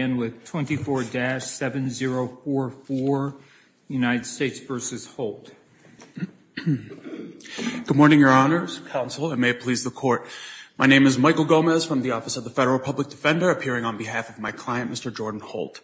Good morning, Your Honors, Counsel, and may it please the Court. My name is Michael Gomez from the Office of the Federal Public Defender, appearing on behalf of my client, Mr. Jordan Holt.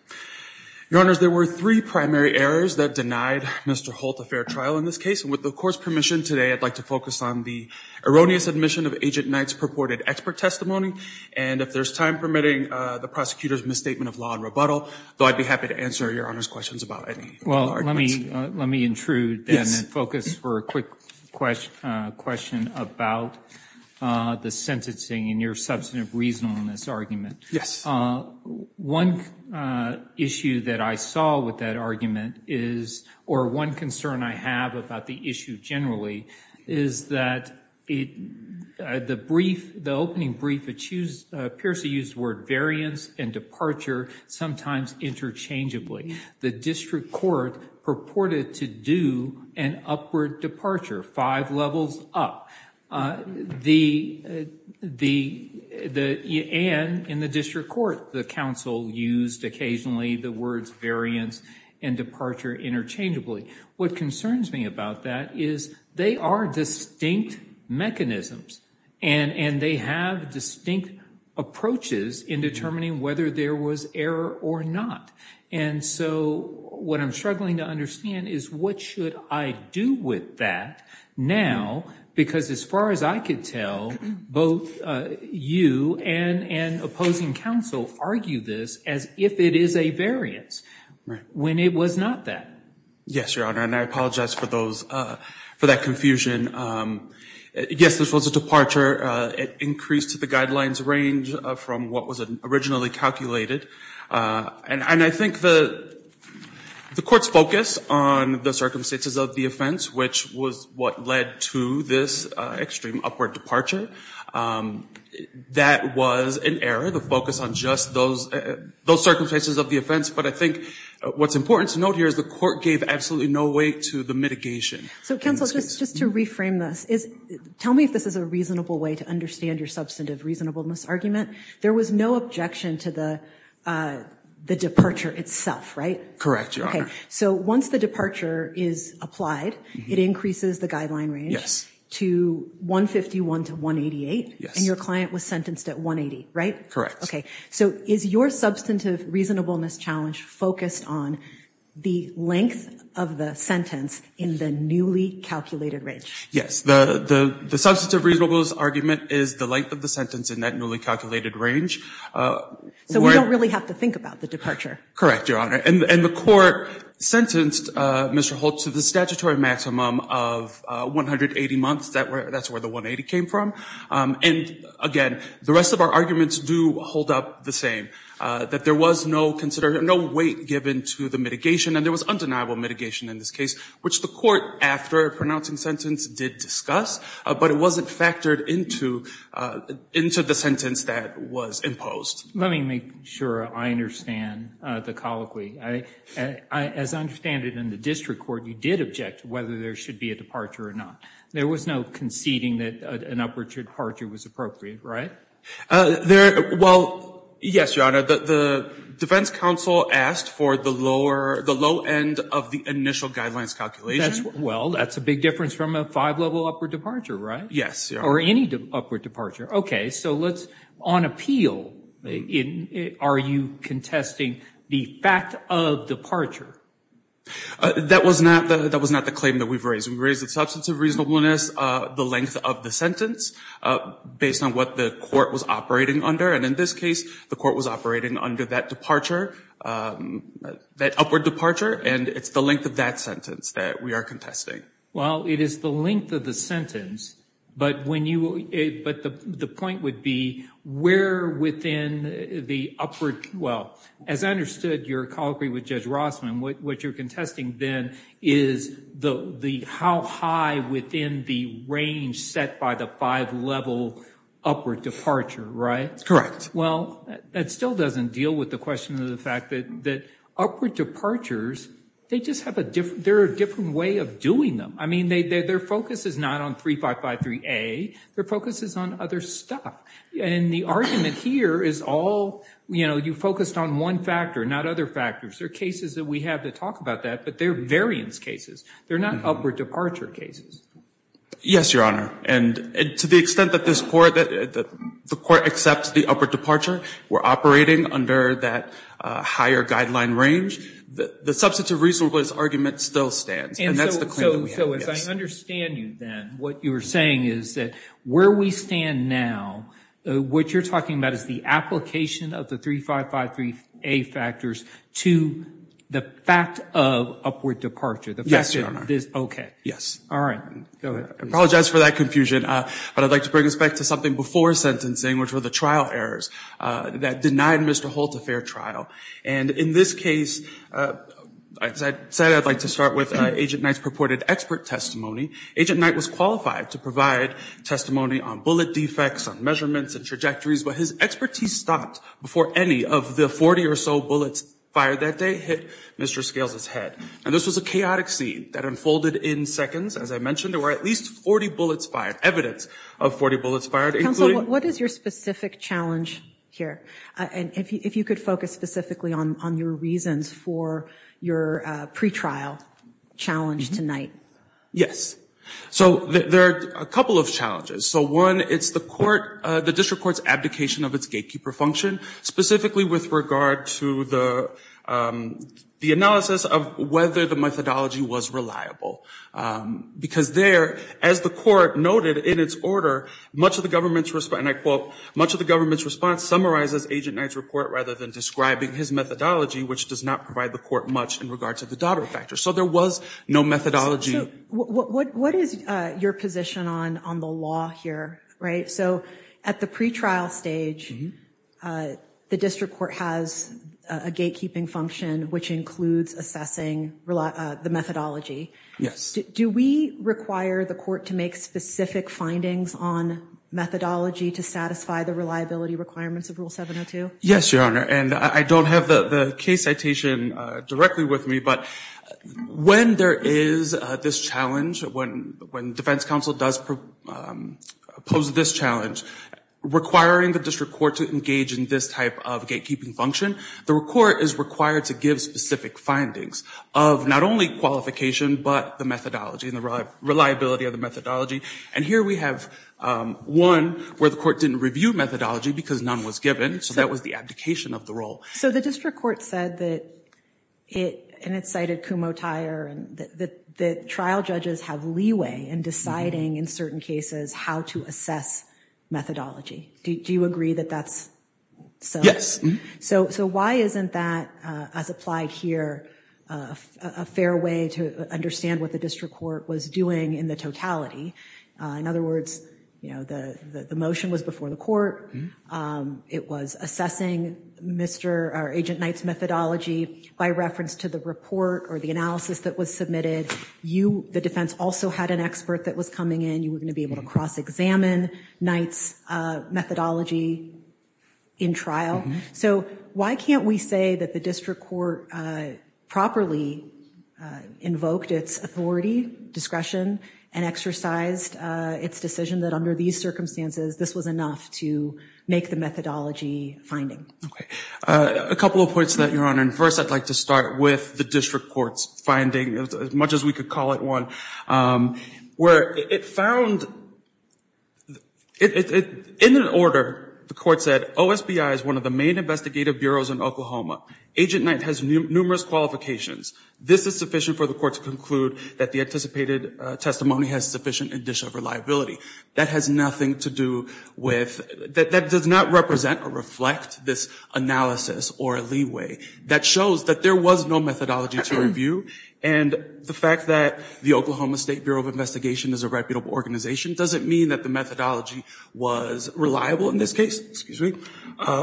Your Honors, there were three primary errors that denied Mr. Holt a fair trial in this case, and with the Court's permission today, I'd like to focus on the erroneous admission of Agent Knight's purported expert testimony, and if there's time permitting, the prosecutor's misstatement of law and rebuttal, though I'd be happy to answer Your Honors' questions about any of the arguments. Well, let me intrude, then, and focus for a quick question about the sentencing and your substantive reasonableness argument. One issue that I saw with that argument is, or one concern I have about the issue generally, is that the opening brief appears to use the words, variance and departure, sometimes interchangeably. The district court purported to do an upward departure, five levels up, and in the district court, the counsel used occasionally the words variance and departure interchangeably. What concerns me about that is they are distinct mechanisms, and they have distinct approaches in determining whether there was error or not, and so what I'm struggling to understand is what should I do with that now, because as far as I could tell, both you and opposing counsel argue this as if it is a variance, when it was not that. Yes, Your Honor, and I apologize for that confusion. Yes, this was a departure. It increased the guidelines range from what was originally calculated, and I think the court's focus on the circumstances of the offense, which was what led to this extreme upward departure, that was an error, the focus on just those circumstances of the offense, but I think what's important to note here is the court gave absolutely no weight to the mitigation. So, counsel, just to reframe this, tell me if this is a reasonable way to understand your substantive reasonableness argument. There was no objection to the departure itself, right? Correct, Your Honor. Okay, so once the departure is applied, it increases the guideline range to 151 to 188, and your client was sentenced at 180, right? Correct. Okay, so is your substantive reasonableness challenge focused on the length of the sentence in the newly calculated range? Yes, the substantive reasonableness argument is the length of the sentence in that newly calculated range. So we don't really have to think about the departure. Correct, Your Honor, and the court sentenced Mr. Holt to the statutory maximum of 180 months. That's where the 180 came from, and again, the rest of our arguments do hold up the same, that there was no weight given to the mitigation, and there was undeniable mitigation in this case, which the court, after a pronouncing sentence, did discuss, but it wasn't factored into the sentence that was imposed. Let me make sure I understand the colloquy. As I understand it in the district court, you did object to whether there should be a departure or not. There was no conceding that an upward departure was appropriate, right? Well, yes, Your Honor. The defense counsel asked for the low end of the initial guidelines calculation. Well, that's a big difference from a five-level upward departure, right? Yes, Your Honor. Or any upward departure. Okay, so let's, on appeal, are you contesting the fact of departure? That was not the claim that we've raised. We've raised the substance of reasonableness, the length of the sentence, based on what the court was operating under, and in this case, the court was operating under that departure, that upward departure, and it's the length of that sentence that we are contesting. Well, it is the length of the sentence, but when you, but the point would be where within the upward, well, as I understood your colloquy with Judge Rossman, what you're contesting then is the how high within the range set by the five-level upward departure, right? Correct. Well, that still doesn't deal with the question of the fact that upward departures, they just have a different, they're a different way of doing them. I mean, their focus is not on 3553A. Their focus is on other stuff, and the argument here is all, you know, you focused on one factor, not other factors. There are cases that we have that talk about that, but they're variance cases. They're not upward departure cases. Yes, Your Honor, and to the extent that this court, that the court accepts the upward departure, we're operating under that higher guideline range, the substance of reasonableness argument still stands, and that's the claim that we have, yes. And so as I understand you then, what you're saying is that where we stand now, what you're talking about is the application of the 3553A factors to the fact of upward departure. Yes, Your Honor. Okay. Yes. All right, go ahead. I apologize for that confusion, but I'd like to bring us back to something before sentencing, which were the trial errors that denied Mr. Holt a fair trial, and in this case, as I said, I'd like to start with Agent Knight's purported expert testimony. Agent Knight was qualified to provide testimony on bullet defects, on measurements and trajectories, but his expertise stopped before any of the 40 or so bullets fired that day hit Mr. Scales's head. And this was a chaotic scene that unfolded in seconds. As I mentioned, there were at least 40 bullets fired, evidence of 40 bullets fired, including... Counsel, what is your specific challenge here? And if you could focus specifically on your reasons for your pretrial challenge tonight. Yes. So there are a couple of challenges. So one, it's the court, the district court's abdication of its gatekeeper function, specifically with regard to the analysis of whether the methodology was reliable. Because there, as the court noted in its order, much of the government's response, and I quote, much of the government's response summarizes Agent Knight's report rather than describing his methodology, which does not provide the court much in regards to the daughter factor. So there was no methodology. What is your position on the law here? Right? So at the pretrial stage, the district court has a gatekeeping function, which includes assessing the methodology. Yes. Do we require the court to make specific findings on methodology to satisfy the reliability requirements of Rule 702? Yes, Your Honor. And I don't have the case citation directly with me, but when there is this challenge, when defense counsel does pose this challenge, requiring the district court to engage in this type of gatekeeping function, the court is required to give specific findings of not only qualification, but the methodology and the reliability of the methodology. And here we have one where the court didn't review methodology because none was given. So that was the abdication of the role. So the district court said that it, and it cited Kumho-Tyre, that trial judges have leeway in deciding in certain cases how to assess methodology. Do you agree that that's so? Yes. So why isn't that, as applied here, a fair way to understand what the district court was doing in the totality? In other words, you know, the motion was before the court. It was assessing Agent Knight's methodology by reference to the report or the analysis that was submitted. You, the defense, also had an expert that was coming in. You were going to be able to cross-examine Knight's methodology in trial. So why can't we say that the district court properly invoked its authority, discretion, and exercised its decision that under these circumstances, this was enough to make the methodology finding? Okay. A couple of points to that, Your Honor. And first, I'd like to start with the district court's finding, as much as we could call it one, where it found, in an order, the court said, OSBI is one of the main investigative bureaus in Oklahoma. Agent Knight has numerous qualifications. This is sufficient for the court to conclude that the anticipated testimony has sufficient indicia of reliability. That has nothing to do with, that does not represent or reflect this analysis or leeway that shows that there was no methodology to review. And the fact that the Oklahoma State Bureau of Investigation is a reputable organization doesn't mean that the methodology was reliable in this case, excuse me,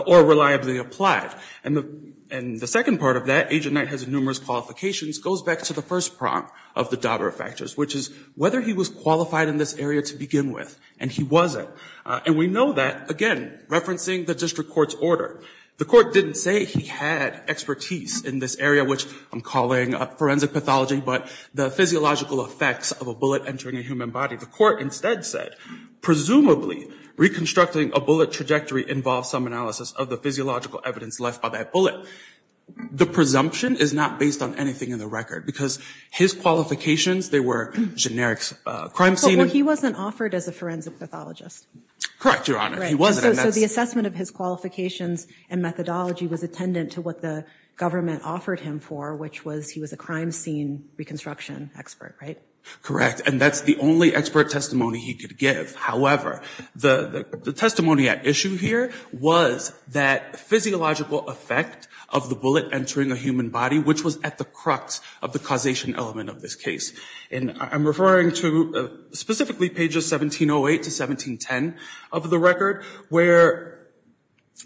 or reliably applied. And the second part of that, Agent Knight has numerous qualifications, goes back to the first prompt of the Dauber factors, which is whether he was qualified in this area to begin with, and he wasn't. And we know that, again, referencing the district court's order. The court didn't say he had expertise in this area, which I'm calling forensic pathology, but the physiological effects of a bullet entering a human body. The court instead said, presumably, reconstructing a bullet trajectory involves some analysis of the physiological evidence left by that bullet. The presumption is not based on anything in the record, because his qualifications, they were generic crime scene. But he wasn't offered as a forensic pathologist. Correct, Your Honor, he wasn't. So the assessment of his qualifications and methodology was attendant to what the government offered him for, which was he was a crime scene reconstruction expert, right? Correct, and that's the only expert testimony he could give. However, the testimony at issue here was that physiological effect of the bullet entering a human body, which was at the crux of the causation element of this case. And I'm referring to specifically pages 1708 to 1710 of the record, where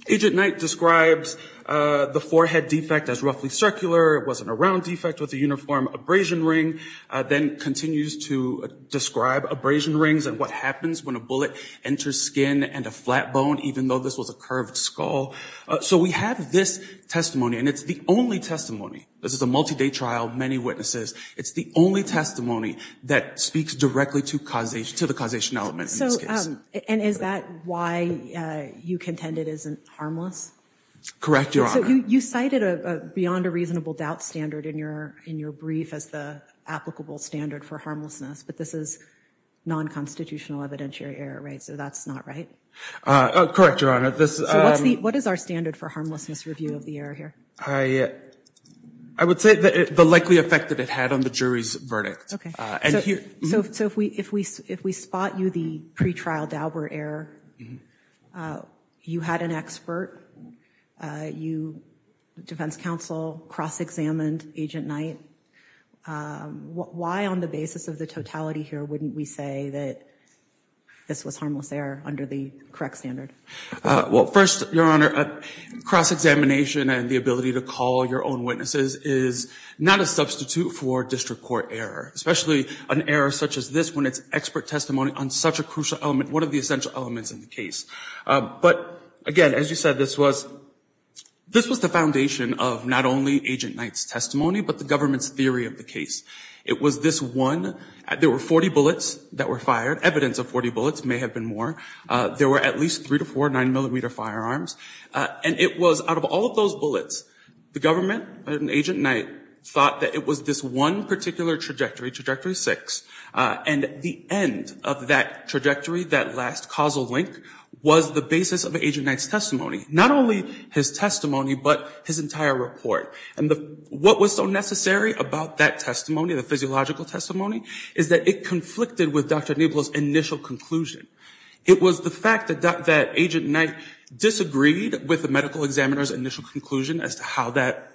Agent Knight describes the forehead defect as roughly circular, it wasn't a round defect with a uniform abrasion ring, then continues to describe abrasion rings and what happens when a bullet enters skin and a flat bone, even though this was a curved skull. So we have this testimony, and it's the only testimony, this is a multi-day trial, many witnesses, it's the only testimony that speaks directly to the causation element in this case. And is that why you contend it isn't harmless? Correct, Your Honor. So you cited a beyond a reasonable doubt standard in your brief as the applicable standard for harmlessness, but this is non-constitutional evidentiary error, right? So that's not right? Correct, Your Honor. So what is our standard for harmlessness review of the error here? I would say the likely effect that it had on the jury's verdict. Okay, so if we spot you the pretrial Daubert error, you had an expert, you had a defense counsel, cross-examined Agent Knight, why on the basis of the totality here wouldn't we say that this was harmless error under the correct standard? Well, first, Your Honor, cross-examination and the ability to call your own witnesses is not a substitute for district court error, especially an error such as this when it's expert testimony on such a crucial element, one of the essential elements in the case. But again, as you said, this was the foundation of not only Agent Knight's testimony, but the government's theory of the case. It was this one, there were 40 bullets that were fired, evidence of 40 bullets, may have been more. There were at least three to four 9mm firearms, and it was out of all of those bullets, the government and Agent Knight thought that it was this one particular trajectory, trajectory six, and the end of that trajectory, that last causal link, was the basis of Agent Knight's testimony, not only his testimony, but his entire report. And what was so necessary about that testimony, the physiological testimony, is that it conflicted with Dr. Nieblow's initial conclusion. It was the fact that Agent Knight disagreed with the medical examiner's initial conclusion as to how that,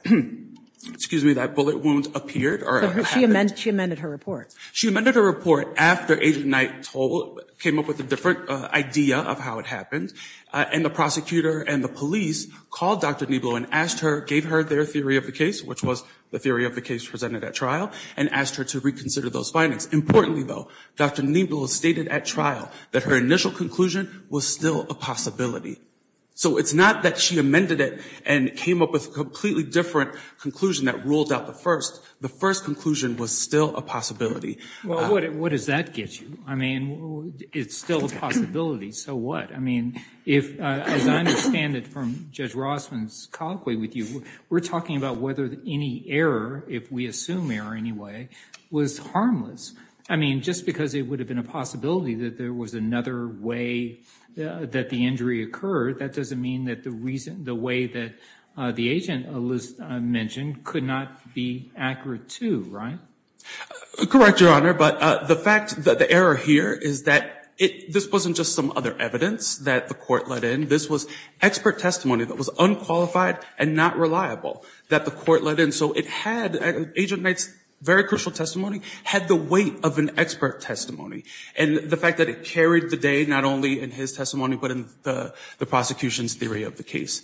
excuse me, that bullet wound appeared. She amended her report. She amended her report after Agent Knight came up with a different idea of how it happened, and the prosecutor and the police called Dr. Nieblow and gave her their theory of the case, which was the theory of the case presented at trial, and asked her to reconsider those findings. Importantly, though, Dr. Nieblow stated at trial that her initial conclusion was still a possibility. So it's not that she amended it and came up with a completely different conclusion that ruled out the first. The first conclusion was still a possibility. Well, what does that get you? I mean, it's still a possibility, so what? I mean, as I understand it from Judge Rossman's colloquy with you, we're talking about whether any error, if we assume error anyway, was harmless. I mean, just because it would have been a possibility that there was another way that the injury occurred, that doesn't mean that the way that the agent mentioned could not be accurate, too, right? Correct, Your Honor, but the fact, the error here is that this wasn't just some other evidence that the court let in. This was expert testimony that was unqualified and not reliable that the court let in. So it had, Agent Knight's very crucial testimony had the weight of an expert testimony. And the fact that it carried the day, not only in his testimony, but in the prosecution's theory of the case.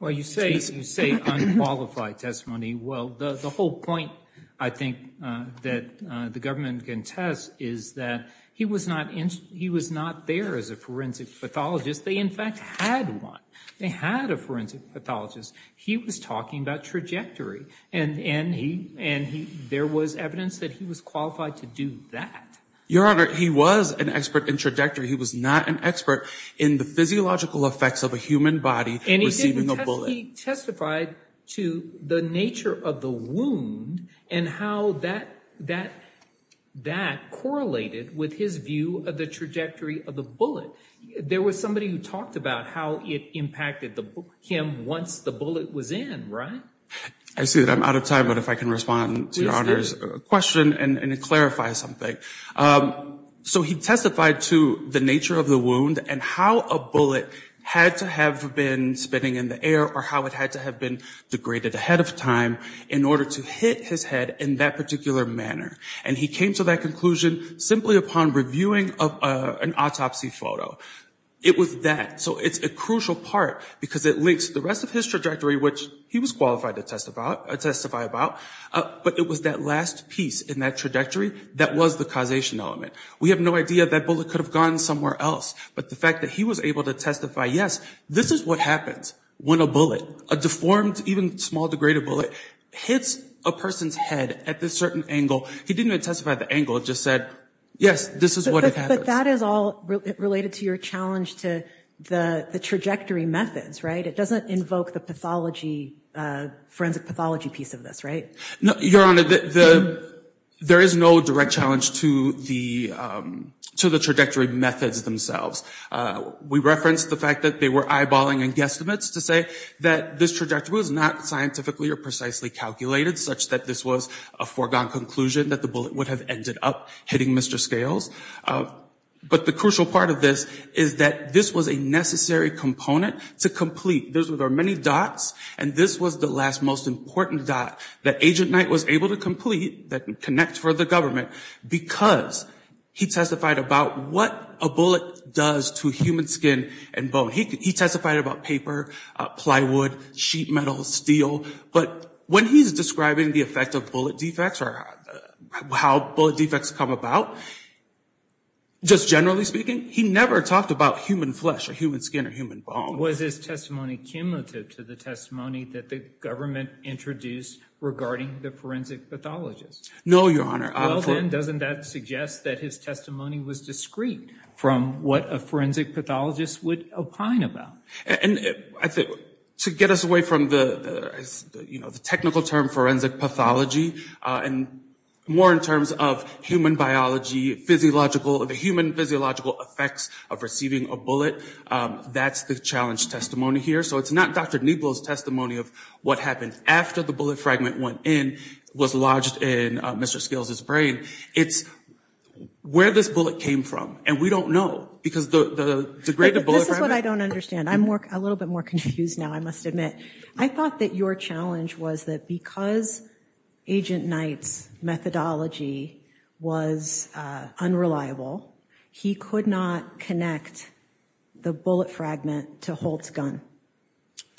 Well, you say unqualified testimony. Well, the whole point, I think, that the government can test is that he was not there as a forensic pathologist. They, in fact, had one. They had a forensic pathologist. He was talking about trajectory, and there was evidence that he was qualified to do that. Your Honor, he was an expert in trajectory. He was not an expert in the physiological effects of a human body receiving a bullet. And he testified to the nature of the wound and how that correlated with his view of the trajectory of the bullet. There was somebody who talked about how it impacted him once the bullet was in, right? I see that I'm out of time, but if I can respond to Your Honor's question and clarify something. So he testified to the nature of the wound and how a bullet had to have been spinning in the air or how it had to have been degraded ahead of time in order to hit his head in that particular manner. And he came to that conclusion simply upon reviewing an autopsy photo. It was that. So it's a crucial part because it links to the rest of his trajectory, which he was qualified to testify about. But it was that last piece in that trajectory that was the causation element. We have no idea if that bullet could have gone somewhere else, but the fact that he was able to testify, yes, this is what happens when a bullet, a deformed, even small degraded bullet, hits a person's head at this certain angle. He didn't even testify the angle. It just said, yes, this is what happens. But that is all related to your challenge to the trajectory methods, right? It doesn't invoke the forensic pathology piece of this, right? Your Honor, there is no direct challenge to the trajectory methods themselves. We referenced the fact that they were eyeballing and guesstimates to say that this trajectory was not scientifically or precisely calculated, such that this was a foregone conclusion that the bullet would have ended up hitting Mr. Scales. But the crucial part of this is that this was a necessary component to complete. There are many dots, and this was the last most important dot that Agent Knight was able to complete, that connects for the government, because he testified about what a bullet does to human skin and bone. He testified about paper, plywood, sheet metal, steel. But when he's describing the effect of bullet defects or how bullet defects come about, just generally speaking, he never talked about human flesh or human skin or human bone. Was his testimony cumulative to the testimony that the government introduced regarding the forensic pathologist? No, Your Honor. Well, then, doesn't that suggest that his testimony was discreet from what a forensic pathologist would opine about? To get us away from the technical term forensic pathology and more in terms of human biology, the human physiological effects of receiving a bullet, that's the challenge testimony here. So it's not Dr. Nieblow's testimony of what happened after the bullet fragment went in, was lodged in Mr. Scales' brain. It's where this bullet came from. And we don't know, because the degraded bullet fragment... This is what I don't understand. I'm a little bit more confused now, I must admit. I thought that your challenge was that because Agent Knight's methodology was unreliable, he could not connect the bullet fragment to Holt's gun.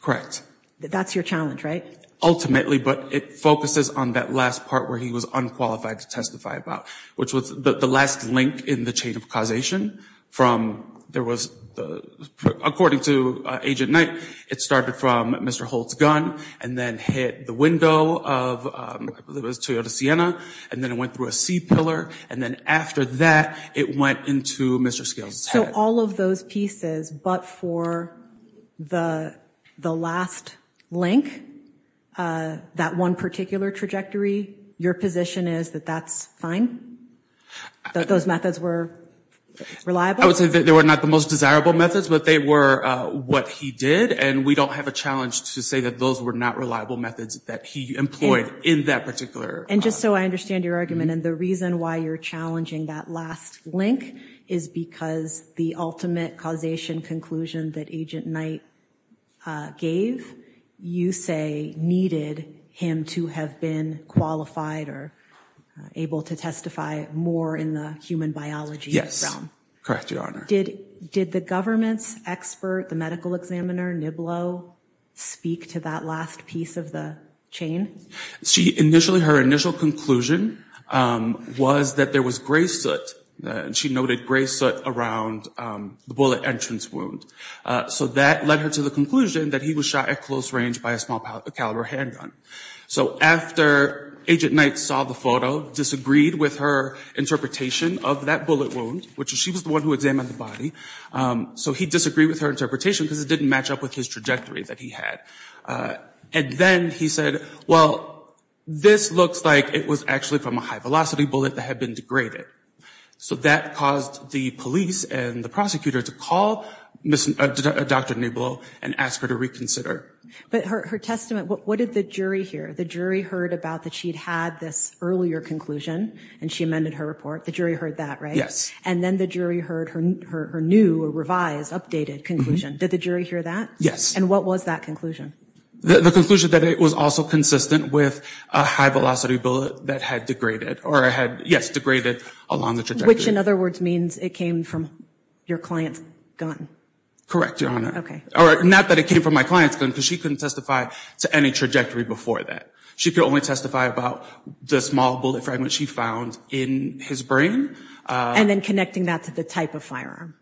Correct. That's your challenge, right? Ultimately, but it focuses on that last part where he was unqualified to testify about, which was the last link in the chain of causation. It went through Mr. Holt's gun and then hit the window of, I believe it was Toyota Sienna, and then it went through a C pillar, and then after that it went into Mr. Scales' head. So all of those pieces, but for the last link, that one particular trajectory, your position is that that's fine? That those methods were reliable? I would say that they were not the most desirable methods, but they were what he did, and we don't have a challenge to say that those were not reliable methods that he employed in that particular... And just so I understand your argument, and the reason why you're challenging that last link is because the ultimate causation conclusion that Agent Knight gave, you say, needed him to have been qualified or able to testify more in the human biology realm. Correct, Your Honor. Did the government's expert, the medical examiner, Niblo, speak to that last piece of the chain? Initially, her initial conclusion was that there was gray soot. She noted gray soot around the bullet entrance wound. So that led her to the conclusion that he was shot at close range by a small caliber handgun. So after Agent Knight saw the photo, disagreed with her interpretation of that bullet wound, which she was the one who examined the body, so he disagreed with her interpretation because it didn't match up with his trajectory that he had. And then he said, well, this looks like it was actually from a high-velocity bullet that had been degraded. So that caused the police and the prosecutor to call Dr. Niblo and ask her to reconsider. But her testament, what did the jury hear? The jury heard about that she'd had this earlier conclusion, and she amended her report. The jury heard that, right? Yes. And then the jury heard her new, revised, updated conclusion. Did the jury hear that? Yes. And what was that conclusion? The conclusion that it was also consistent with a high-velocity bullet that had degraded or had, yes, degraded along the trajectory. Which, in other words, means it came from your client's gun. Correct, Your Honor. Or not that it came from my client's gun, because she couldn't testify to any trajectory before that. She could only testify about the small bullet fragment she found in his brain. And then connecting that to the type of firearm.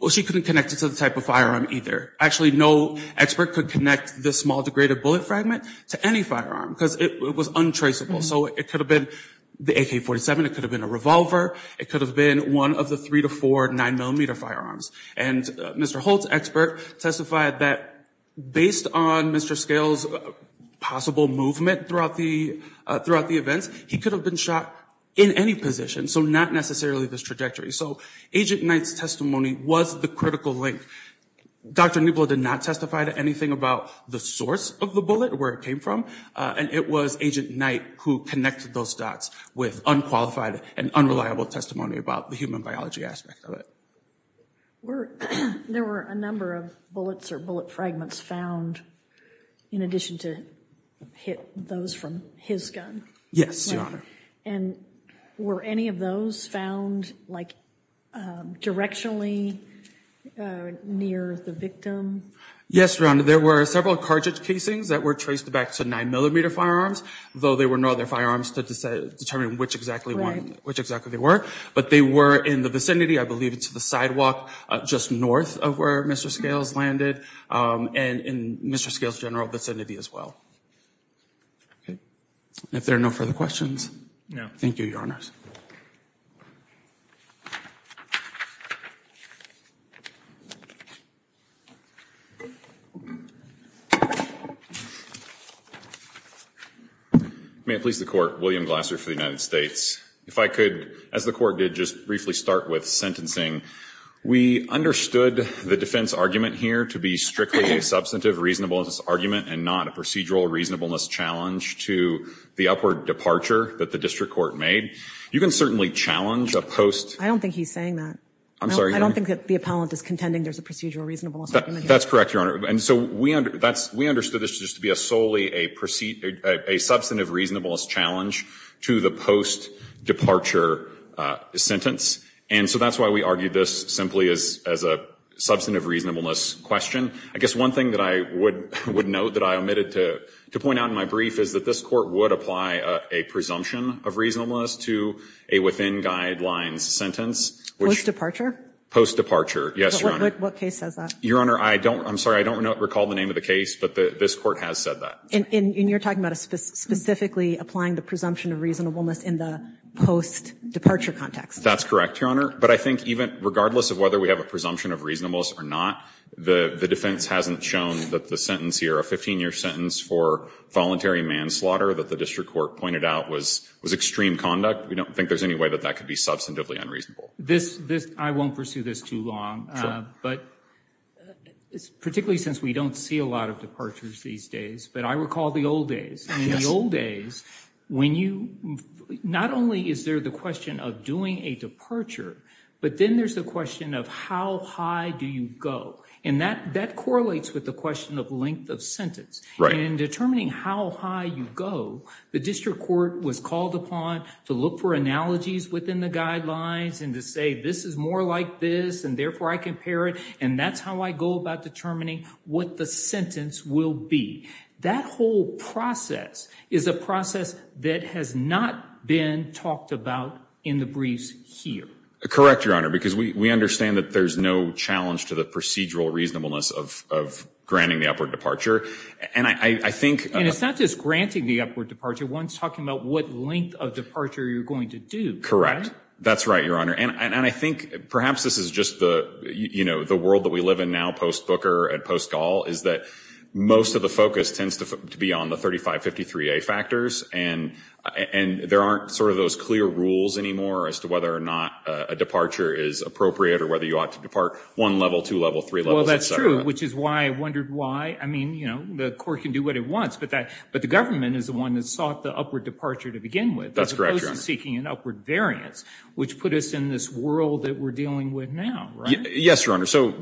Well, she couldn't connect it to the type of firearm either. Actually, no expert could connect this small degraded bullet fragment to any firearm. Because it was untraceable. So it could have been the AK-47, it could have been a revolver, it could have been one of the three to four 9mm firearms. And Mr. Holt's expert testified that based on Mr. Scales' possible movement throughout the events, he could have been shot in any position. So not necessarily this trajectory. So Agent Knight's testimony was the critical link. Dr. Newblood did not testify to anything about the source of the bullet, where it came from. And it was Agent Knight who connected those dots with unqualified and unreliable testimony about the human biology aspect of it. There were a number of bullets or bullet fragments found in addition to hit those from his gun. Yes, Your Honor. And were any of those found, like, directionally near the victim? Yes, Your Honor. There were several cartridge casings that were traced back to 9mm firearms, though there were no other firearms to determine which exactly they were. But they were in the vicinity, I believe to the sidewalk just north of where Mr. Scales landed. And in Mr. Scales' general vicinity as well. If there are no further questions, thank you, Your Honors. May it please the Court, William Glasser for the United States. If I could, as the Court did, just briefly start with sentencing. We understood the defense argument here to be strictly a substantive reasonableness argument and not a procedural reasonableness challenge to the upward departure that the district court made. You can certainly challenge a post- I don't think he's saying that. I'm sorry, Your Honor. I don't think that the appellant is contending there's a procedural reasonableness argument here. That's correct, Your Honor. And so we understood this just to be solely a substantive reasonableness challenge to the post-departure sentence. And so that's why we argued this simply as a substantive reasonableness question. I guess one thing that I would note that I omitted to point out in my brief is that this Court would apply a presumption of reasonableness to a within guidelines sentence. Post-departure? Post-departure, yes, Your Honor. What case says that? Your Honor, I'm sorry. I don't recall the name of the case, but this Court has said that. And you're talking about specifically applying the presumption of reasonableness in the post-departure context. That's correct, Your Honor. But I think even regardless of whether we have a presumption of reasonableness or not, the defense hasn't shown that the sentence here, a 15-year sentence for voluntary manslaughter that the district court pointed out, was extreme conduct. We don't think there's any way that that could be substantively unreasonable. I won't pursue this too long. But particularly since we don't see a lot of departures these days, but I recall the old days. In the old days, not only is there the question of doing a departure, but then there's the question of how high do you go? And that correlates with the question of length of sentence. And in determining how high you go, the district court was called upon to look for analogies within the guidelines and to say, this is more like this, and therefore I compare it. And that's how I go about determining what the sentence will be. That whole process is a process that has not been talked about in the briefs here. Correct, Your Honor, because we understand that there's no challenge to the procedural reasonableness of granting the upward departure. And it's not just granting the upward departure. One's talking about what length of departure you're going to do. That's right, Your Honor. And I think perhaps this is just the world that we live in now, post-Booker and post-Gaul, is that most of the focus tends to be on the 3553A factors. And there aren't sort of those clear rules anymore as to whether or not a departure is appropriate or whether you ought to depart one level, two level, three level, et cetera. Well, that's true, which is why I wondered why. I mean, you know, the court can do what it wants, but the government is the one that sought the upward departure to begin with. That's correct, Your Honor. As opposed to seeking an upward variance, which put us in this world that we're dealing with now, right? Yes, Your Honor. So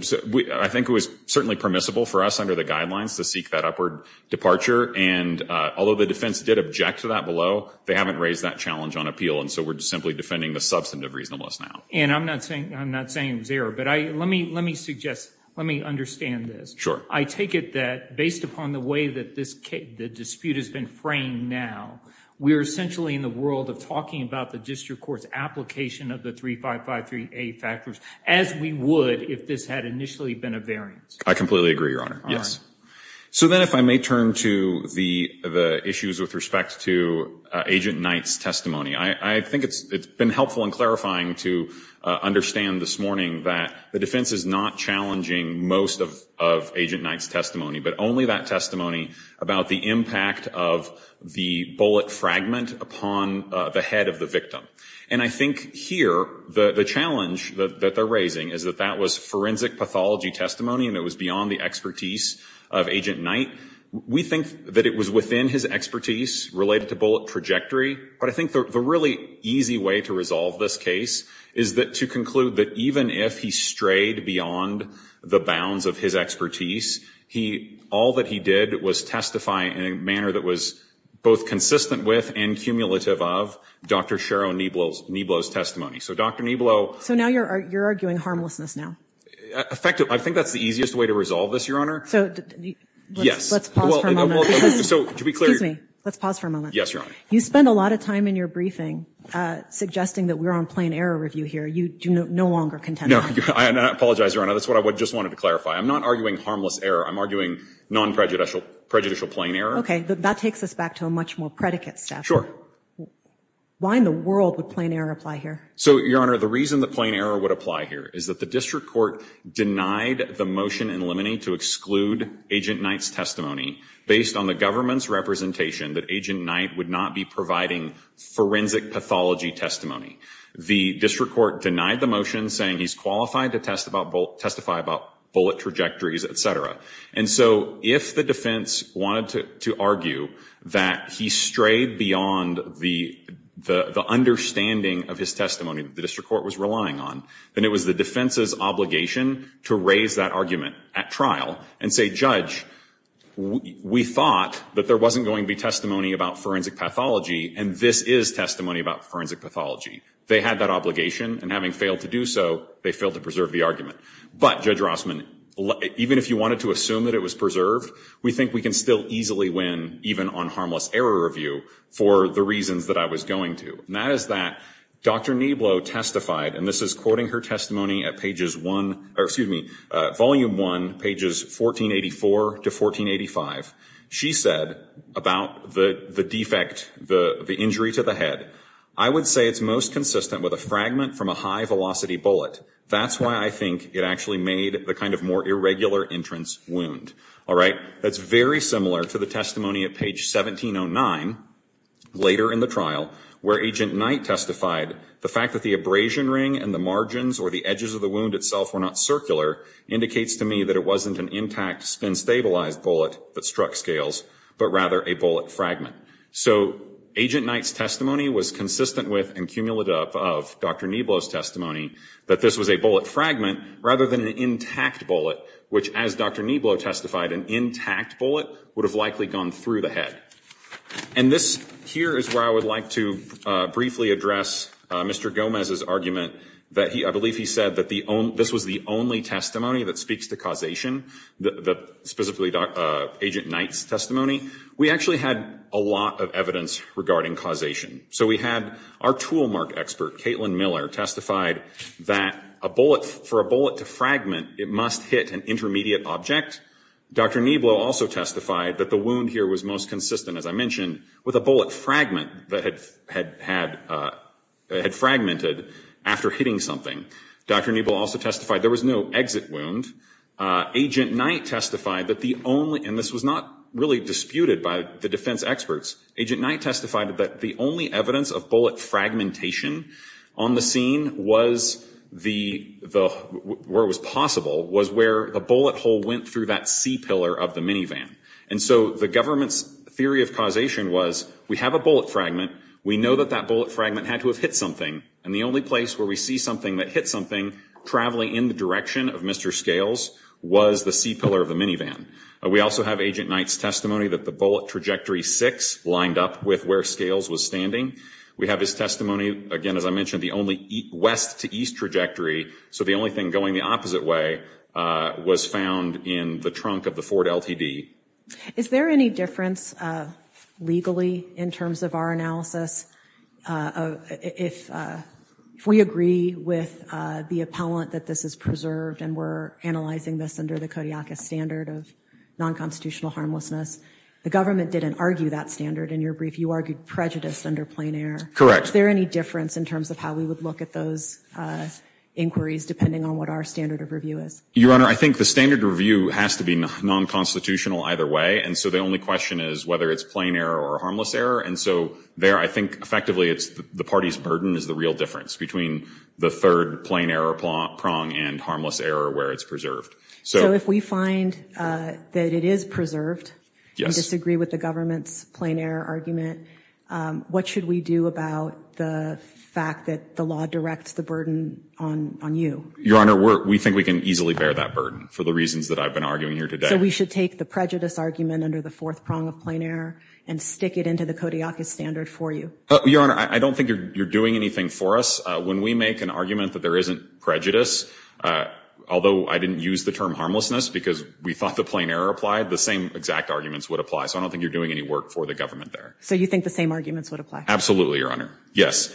I think it was certainly permissible for us under the guidelines to seek that upward departure. And although the defense did object to that below, they haven't raised that challenge on appeal. And so we're simply defending the substantive reasonableness now. And I'm not saying it was error, but let me suggest, let me understand this. Sure. I take it that based upon the way that this dispute has been framed now, we're essentially in the world of talking about the district court's application of the 3553A factors as we would if this had initially been a variance. I completely agree, Your Honor. Yes. So then if I may turn to the issues with respect to Agent Knight's testimony. I think it's been helpful and clarifying to understand this morning that the defense is not challenging most of Agent Knight's testimony, but only that testimony about the impact of the bullet fragment upon the head of the victim. And I think here the challenge that they're raising is that that was forensic pathology testimony and it was beyond the expertise of Agent Knight. We think that it was within his expertise related to bullet trajectory. But I think the really easy way to resolve this case is to conclude that even if he strayed beyond the bounds of his expertise, all that he did was testify in a manner that was both consistent with and cumulative of Dr. Sharo Neblo's testimony. So Dr. Neblo. So now you're arguing harmlessness now. I think that's the easiest way to resolve this, Your Honor. So let's pause for a moment. Yes. Excuse me. Let's pause for a moment. Yes, Your Honor. You spend a lot of time in your briefing suggesting that we're on plain error review here. You do no longer contend on that. I apologize, Your Honor. That's what I just wanted to clarify. I'm not arguing harmless error. I'm arguing non-prejudicial plain error. Okay. That takes us back to a much more predicate step. Why in the world would plain error apply here? So, Your Honor, the reason that plain error would apply here is that the district court denied the motion in Limine to exclude Agent Knight's testimony based on the government's representation that Agent Knight would not be providing forensic pathology testimony. The district court denied the motion saying he's qualified to testify about bullet trajectories, et cetera. And so if the defense wanted to argue that he strayed beyond the understanding of his testimony that the district court was relying on, then it was the defense's obligation to raise that argument at trial and say, Judge, we thought that there wasn't going to be testimony about forensic pathology, and this is testimony about forensic pathology. They had that obligation, and having failed to do so, they failed to preserve the argument. But, Judge Rossman, even if you wanted to assume that it was preserved, we think we can still easily win even on harmless error review for the reasons that I was going to. And that is that Dr. Nablow testified, and this is quoting her testimony at pages 1, or excuse me, Volume 1, pages 1484 to 1485. She said about the defect, the injury to the head, I would say it's most consistent with a fragment from a high-velocity bullet. That's why I think it actually made the kind of more irregular entrance wound. That's very similar to the testimony at page 1709, later in the trial, where Agent Knight testified, the fact that the abrasion ring and the margins or the edges of the wound itself were not circular, indicates to me that it wasn't an intact, spin-stabilized bullet that struck scales, but rather a bullet fragment. So, Agent Knight's testimony was consistent with and cumulative of Dr. Nablow's testimony, that this was a bullet fragment rather than an intact bullet, which, as Dr. Nablow testified, an intact bullet would have likely gone through the head. And this here is where I would like to briefly address Mr. Gomez's argument that he, I believe he said that this was the only testimony that speaks to causation, specifically Agent Knight's testimony. We actually had a lot of evidence regarding causation. So we had our tool mark expert, Caitlin Miller, testified that for a bullet to fragment, it must hit an intermediate object. Dr. Nablow also testified that the wound here was most consistent, as I mentioned, with a bullet fragment that had fragmented after hitting something. Dr. Nablow also testified there was no exit wound. Agent Knight testified that the only, and this was not really disputed by the defense experts, Agent Knight testified that the only evidence of bullet fragmentation on the scene was the, where it was possible, was where the bullet hole went through that C pillar of the minivan. And so the government's theory of causation was we have a bullet fragment, we know that that bullet fragment had to have hit something, and the only place where we see something that hit something traveling in the direction of Mr. Scales was the C pillar of the minivan. We also have Agent Knight's testimony that the bullet trajectory six lined up with where Scales was standing. We have his testimony, again, as I mentioned, the only west to east trajectory, so the only thing going the opposite way, was found in the trunk of the Ford LTD. Is there any difference legally in terms of our analysis, if we agree with the appellant that this is preserved and we're analyzing this under the Kodiakus standard of non-constitutional harmlessness, the government didn't argue that standard in your brief. You argued prejudice under plain error. Correct. Is there any difference in terms of how we would look at those inquiries, depending on what our standard of review is? Your Honor, I think the standard review has to be non-constitutional either way, and so the only question is whether it's plain error or harmless error, and so there I think effectively it's the party's burden is the real difference between the third plain error prong and harmless error where it's preserved. So if we find that it is preserved and disagree with the government's plain error argument, what should we do about the fact that the law directs the burden on you? Your Honor, we think we can easily bear that burden for the reasons that I've been arguing here today. So we should take the prejudice argument under the fourth prong of plain error and stick it into the Kodiakus standard for you? Your Honor, I don't think you're doing anything for us. When we make an argument that there isn't prejudice, although I didn't use the term harmlessness because we thought the plain error applied, the same exact arguments would apply, so I don't think you're doing any work for the government there. So you think the same arguments would apply? Absolutely, Your Honor. Yes.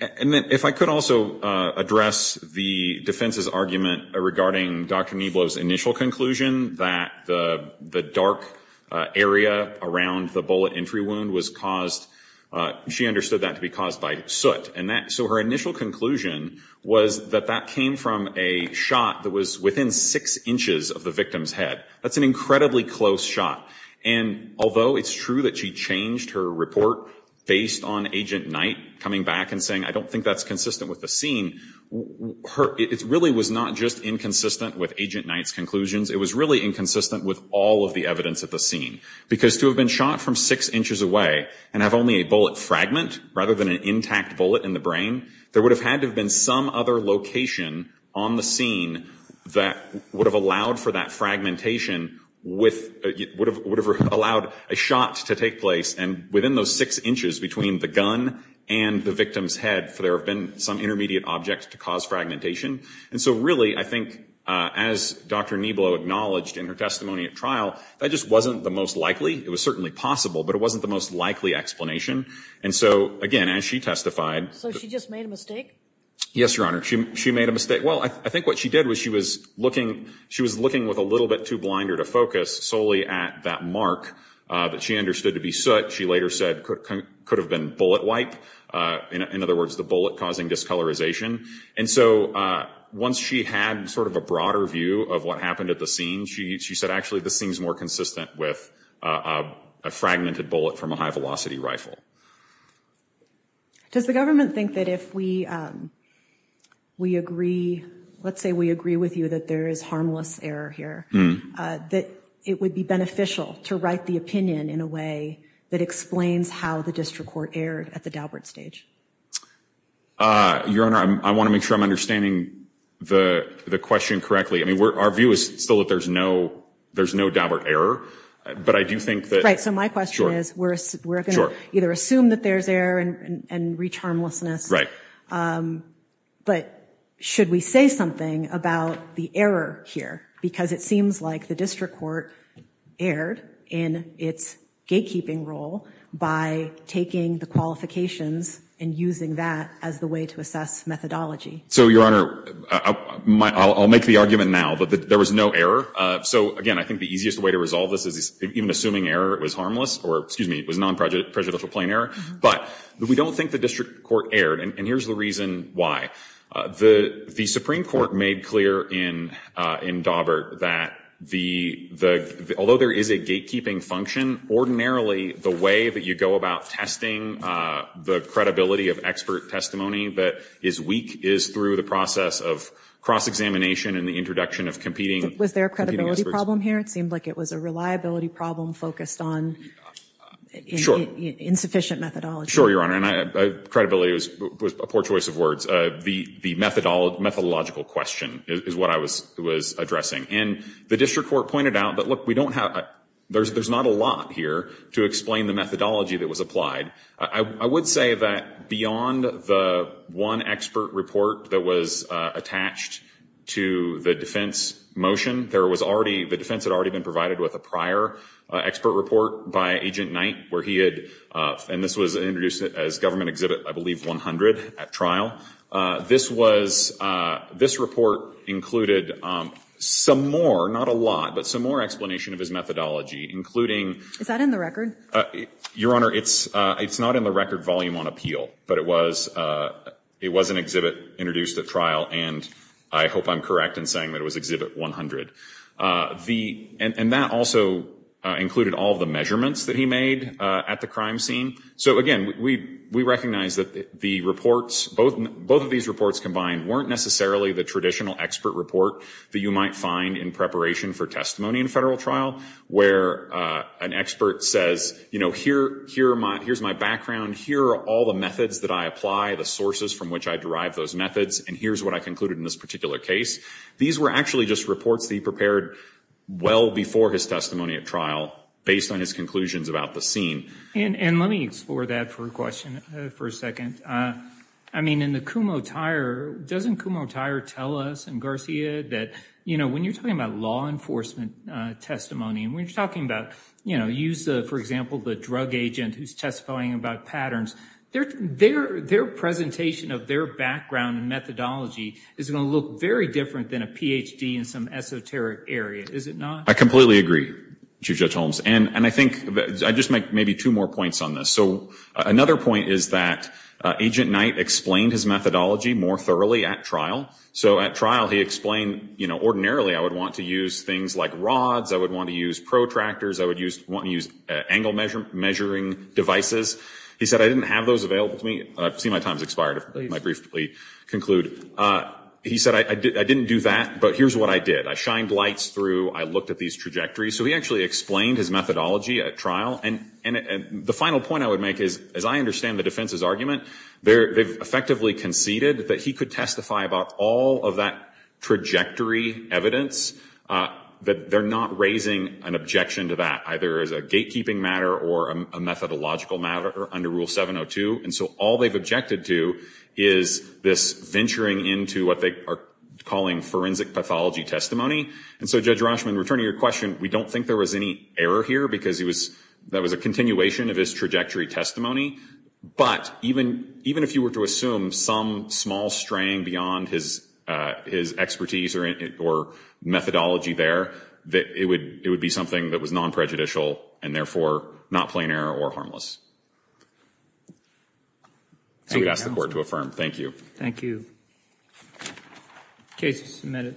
And if I could also address the defense's argument regarding Dr. Neblo's initial conclusion that the dark area around the bullet entry wound was caused, she understood that to be caused by soot. So her initial conclusion was that that came from a shot that was within six inches of the victim's head. That's an incredibly close shot. And although it's true that she changed her report based on Agent Knight coming back and saying, I don't think that's consistent with the scene, it really was not just inconsistent with Agent Knight's conclusions. It was really inconsistent with all of the evidence at the scene. Because to have been shot from six inches away and have only a bullet fragment, rather than an intact bullet in the brain, there would have had to have been some other location on the scene that would have allowed for that fragmentation, would have allowed a shot to take place within those six inches between the gun and the victim's head, for there have been some intermediate object to cause fragmentation. And so really, I think, as Dr. Neblo acknowledged in her testimony at trial, that just wasn't the most likely. It was certainly possible, but it wasn't the most likely explanation. And so, again, as she testified. So she just made a mistake? Yes, Your Honor. She made a mistake. Well, I think what she did was she was looking with a little bit too blinded a focus solely at that mark that she understood to be soot. She later said could have been bullet wipe. In other words, the bullet causing discolorization. And so once she had sort of a broader view of what happened at the scene, she said actually this seems more consistent with a fragmented bullet from a high-velocity rifle. Does the government think that if we agree, let's say we agree with you that there is harmless error here, that it would be beneficial to write the opinion in a way that explains how the district court erred at the Daubert stage? Your Honor, I want to make sure I'm understanding the question correctly. I mean, our view is still that there's no Daubert error, but I do think that. Right. So my question is we're going to either assume that there's error and reach harmlessness. Right. But should we say something about the error here? Because it seems like the district court erred in its gatekeeping role by taking the qualifications and using that as the way to assess methodology. So, Your Honor, I'll make the argument now that there was no error. So, again, I think the easiest way to resolve this is even assuming error was harmless or, excuse me, was non-prejudicial plain error. But we don't think the district court erred. And here's the reason why. The Supreme Court made clear in Daubert that although there is a gatekeeping function, ordinarily the way that you go about testing the credibility of expert testimony that is weak is through the process of cross-examination and the introduction of competing experts. Was there a credibility problem here? It seemed like it was a reliability problem focused on insufficient methodology. Sure, Your Honor. Credibility was a poor choice of words. The methodological question is what I was addressing. And the district court pointed out that, look, we don't have, there's not a lot here to explain the methodology that was applied. I would say that beyond the one expert report that was attached to the defense motion, there was already, the defense had already been provided with a prior expert report by Agent Knight where he had, and this was introduced as Government Exhibit, I believe, 100 at trial. This was, this report included some more, not a lot, but some more explanation of his methodology, including. Is that in the record? Your Honor, it's not in the record volume on appeal. But it was an exhibit introduced at trial, and I hope I'm correct in saying that it was Exhibit 100. And that also included all of the measurements that he made at the crime scene. So, again, we recognize that the reports, both of these reports combined, weren't necessarily the traditional expert report that you might find in preparation for testimony in a federal trial where an expert says, you know, here's my background, here are all the methods that I apply, the sources from which I derive those methods, and here's what I concluded in this particular case. These were actually just reports that he prepared well before his testimony at trial, based on his conclusions about the scene. And let me explore that for a question for a second. I mean, in the Kumho-Tyre, doesn't Kumho-Tyre tell us in Garcia that, you know, when you're talking about law enforcement testimony and when you're talking about, you know, use, for example, the drug agent who's testifying about patterns, their presentation of their background and methodology is going to look very different than a Ph.D. in some esoteric area, is it not? I completely agree, Chief Judge Holmes. And I think I'd just make maybe two more points on this. So another point is that Agent Knight explained his methodology more thoroughly at trial. So at trial he explained, you know, ordinarily I would want to use things like rods, I would want to use protractors, I would want to use angle measuring devices. He said, I didn't have those available to me. I see my time has expired, if I might briefly conclude. He said, I didn't do that, but here's what I did. I shined lights through, I looked at these trajectories. So he actually explained his methodology at trial. And the final point I would make is, as I understand the defense's argument, they've effectively conceded that he could testify about all of that trajectory evidence, that they're not raising an objection to that, either as a gatekeeping matter or a methodological matter under Rule 702. And so all they've objected to is this venturing into what they are calling forensic pathology testimony. And so, Judge Rashman, returning to your question, we don't think there was any error here, because that was a continuation of his trajectory testimony. But even if you were to assume some small straying beyond his expertise or methodology there, it would be something that was non-prejudicial and therefore not plain error or harmless. So we'd ask the Court to affirm. Thank you. Thank you. Case is submitted.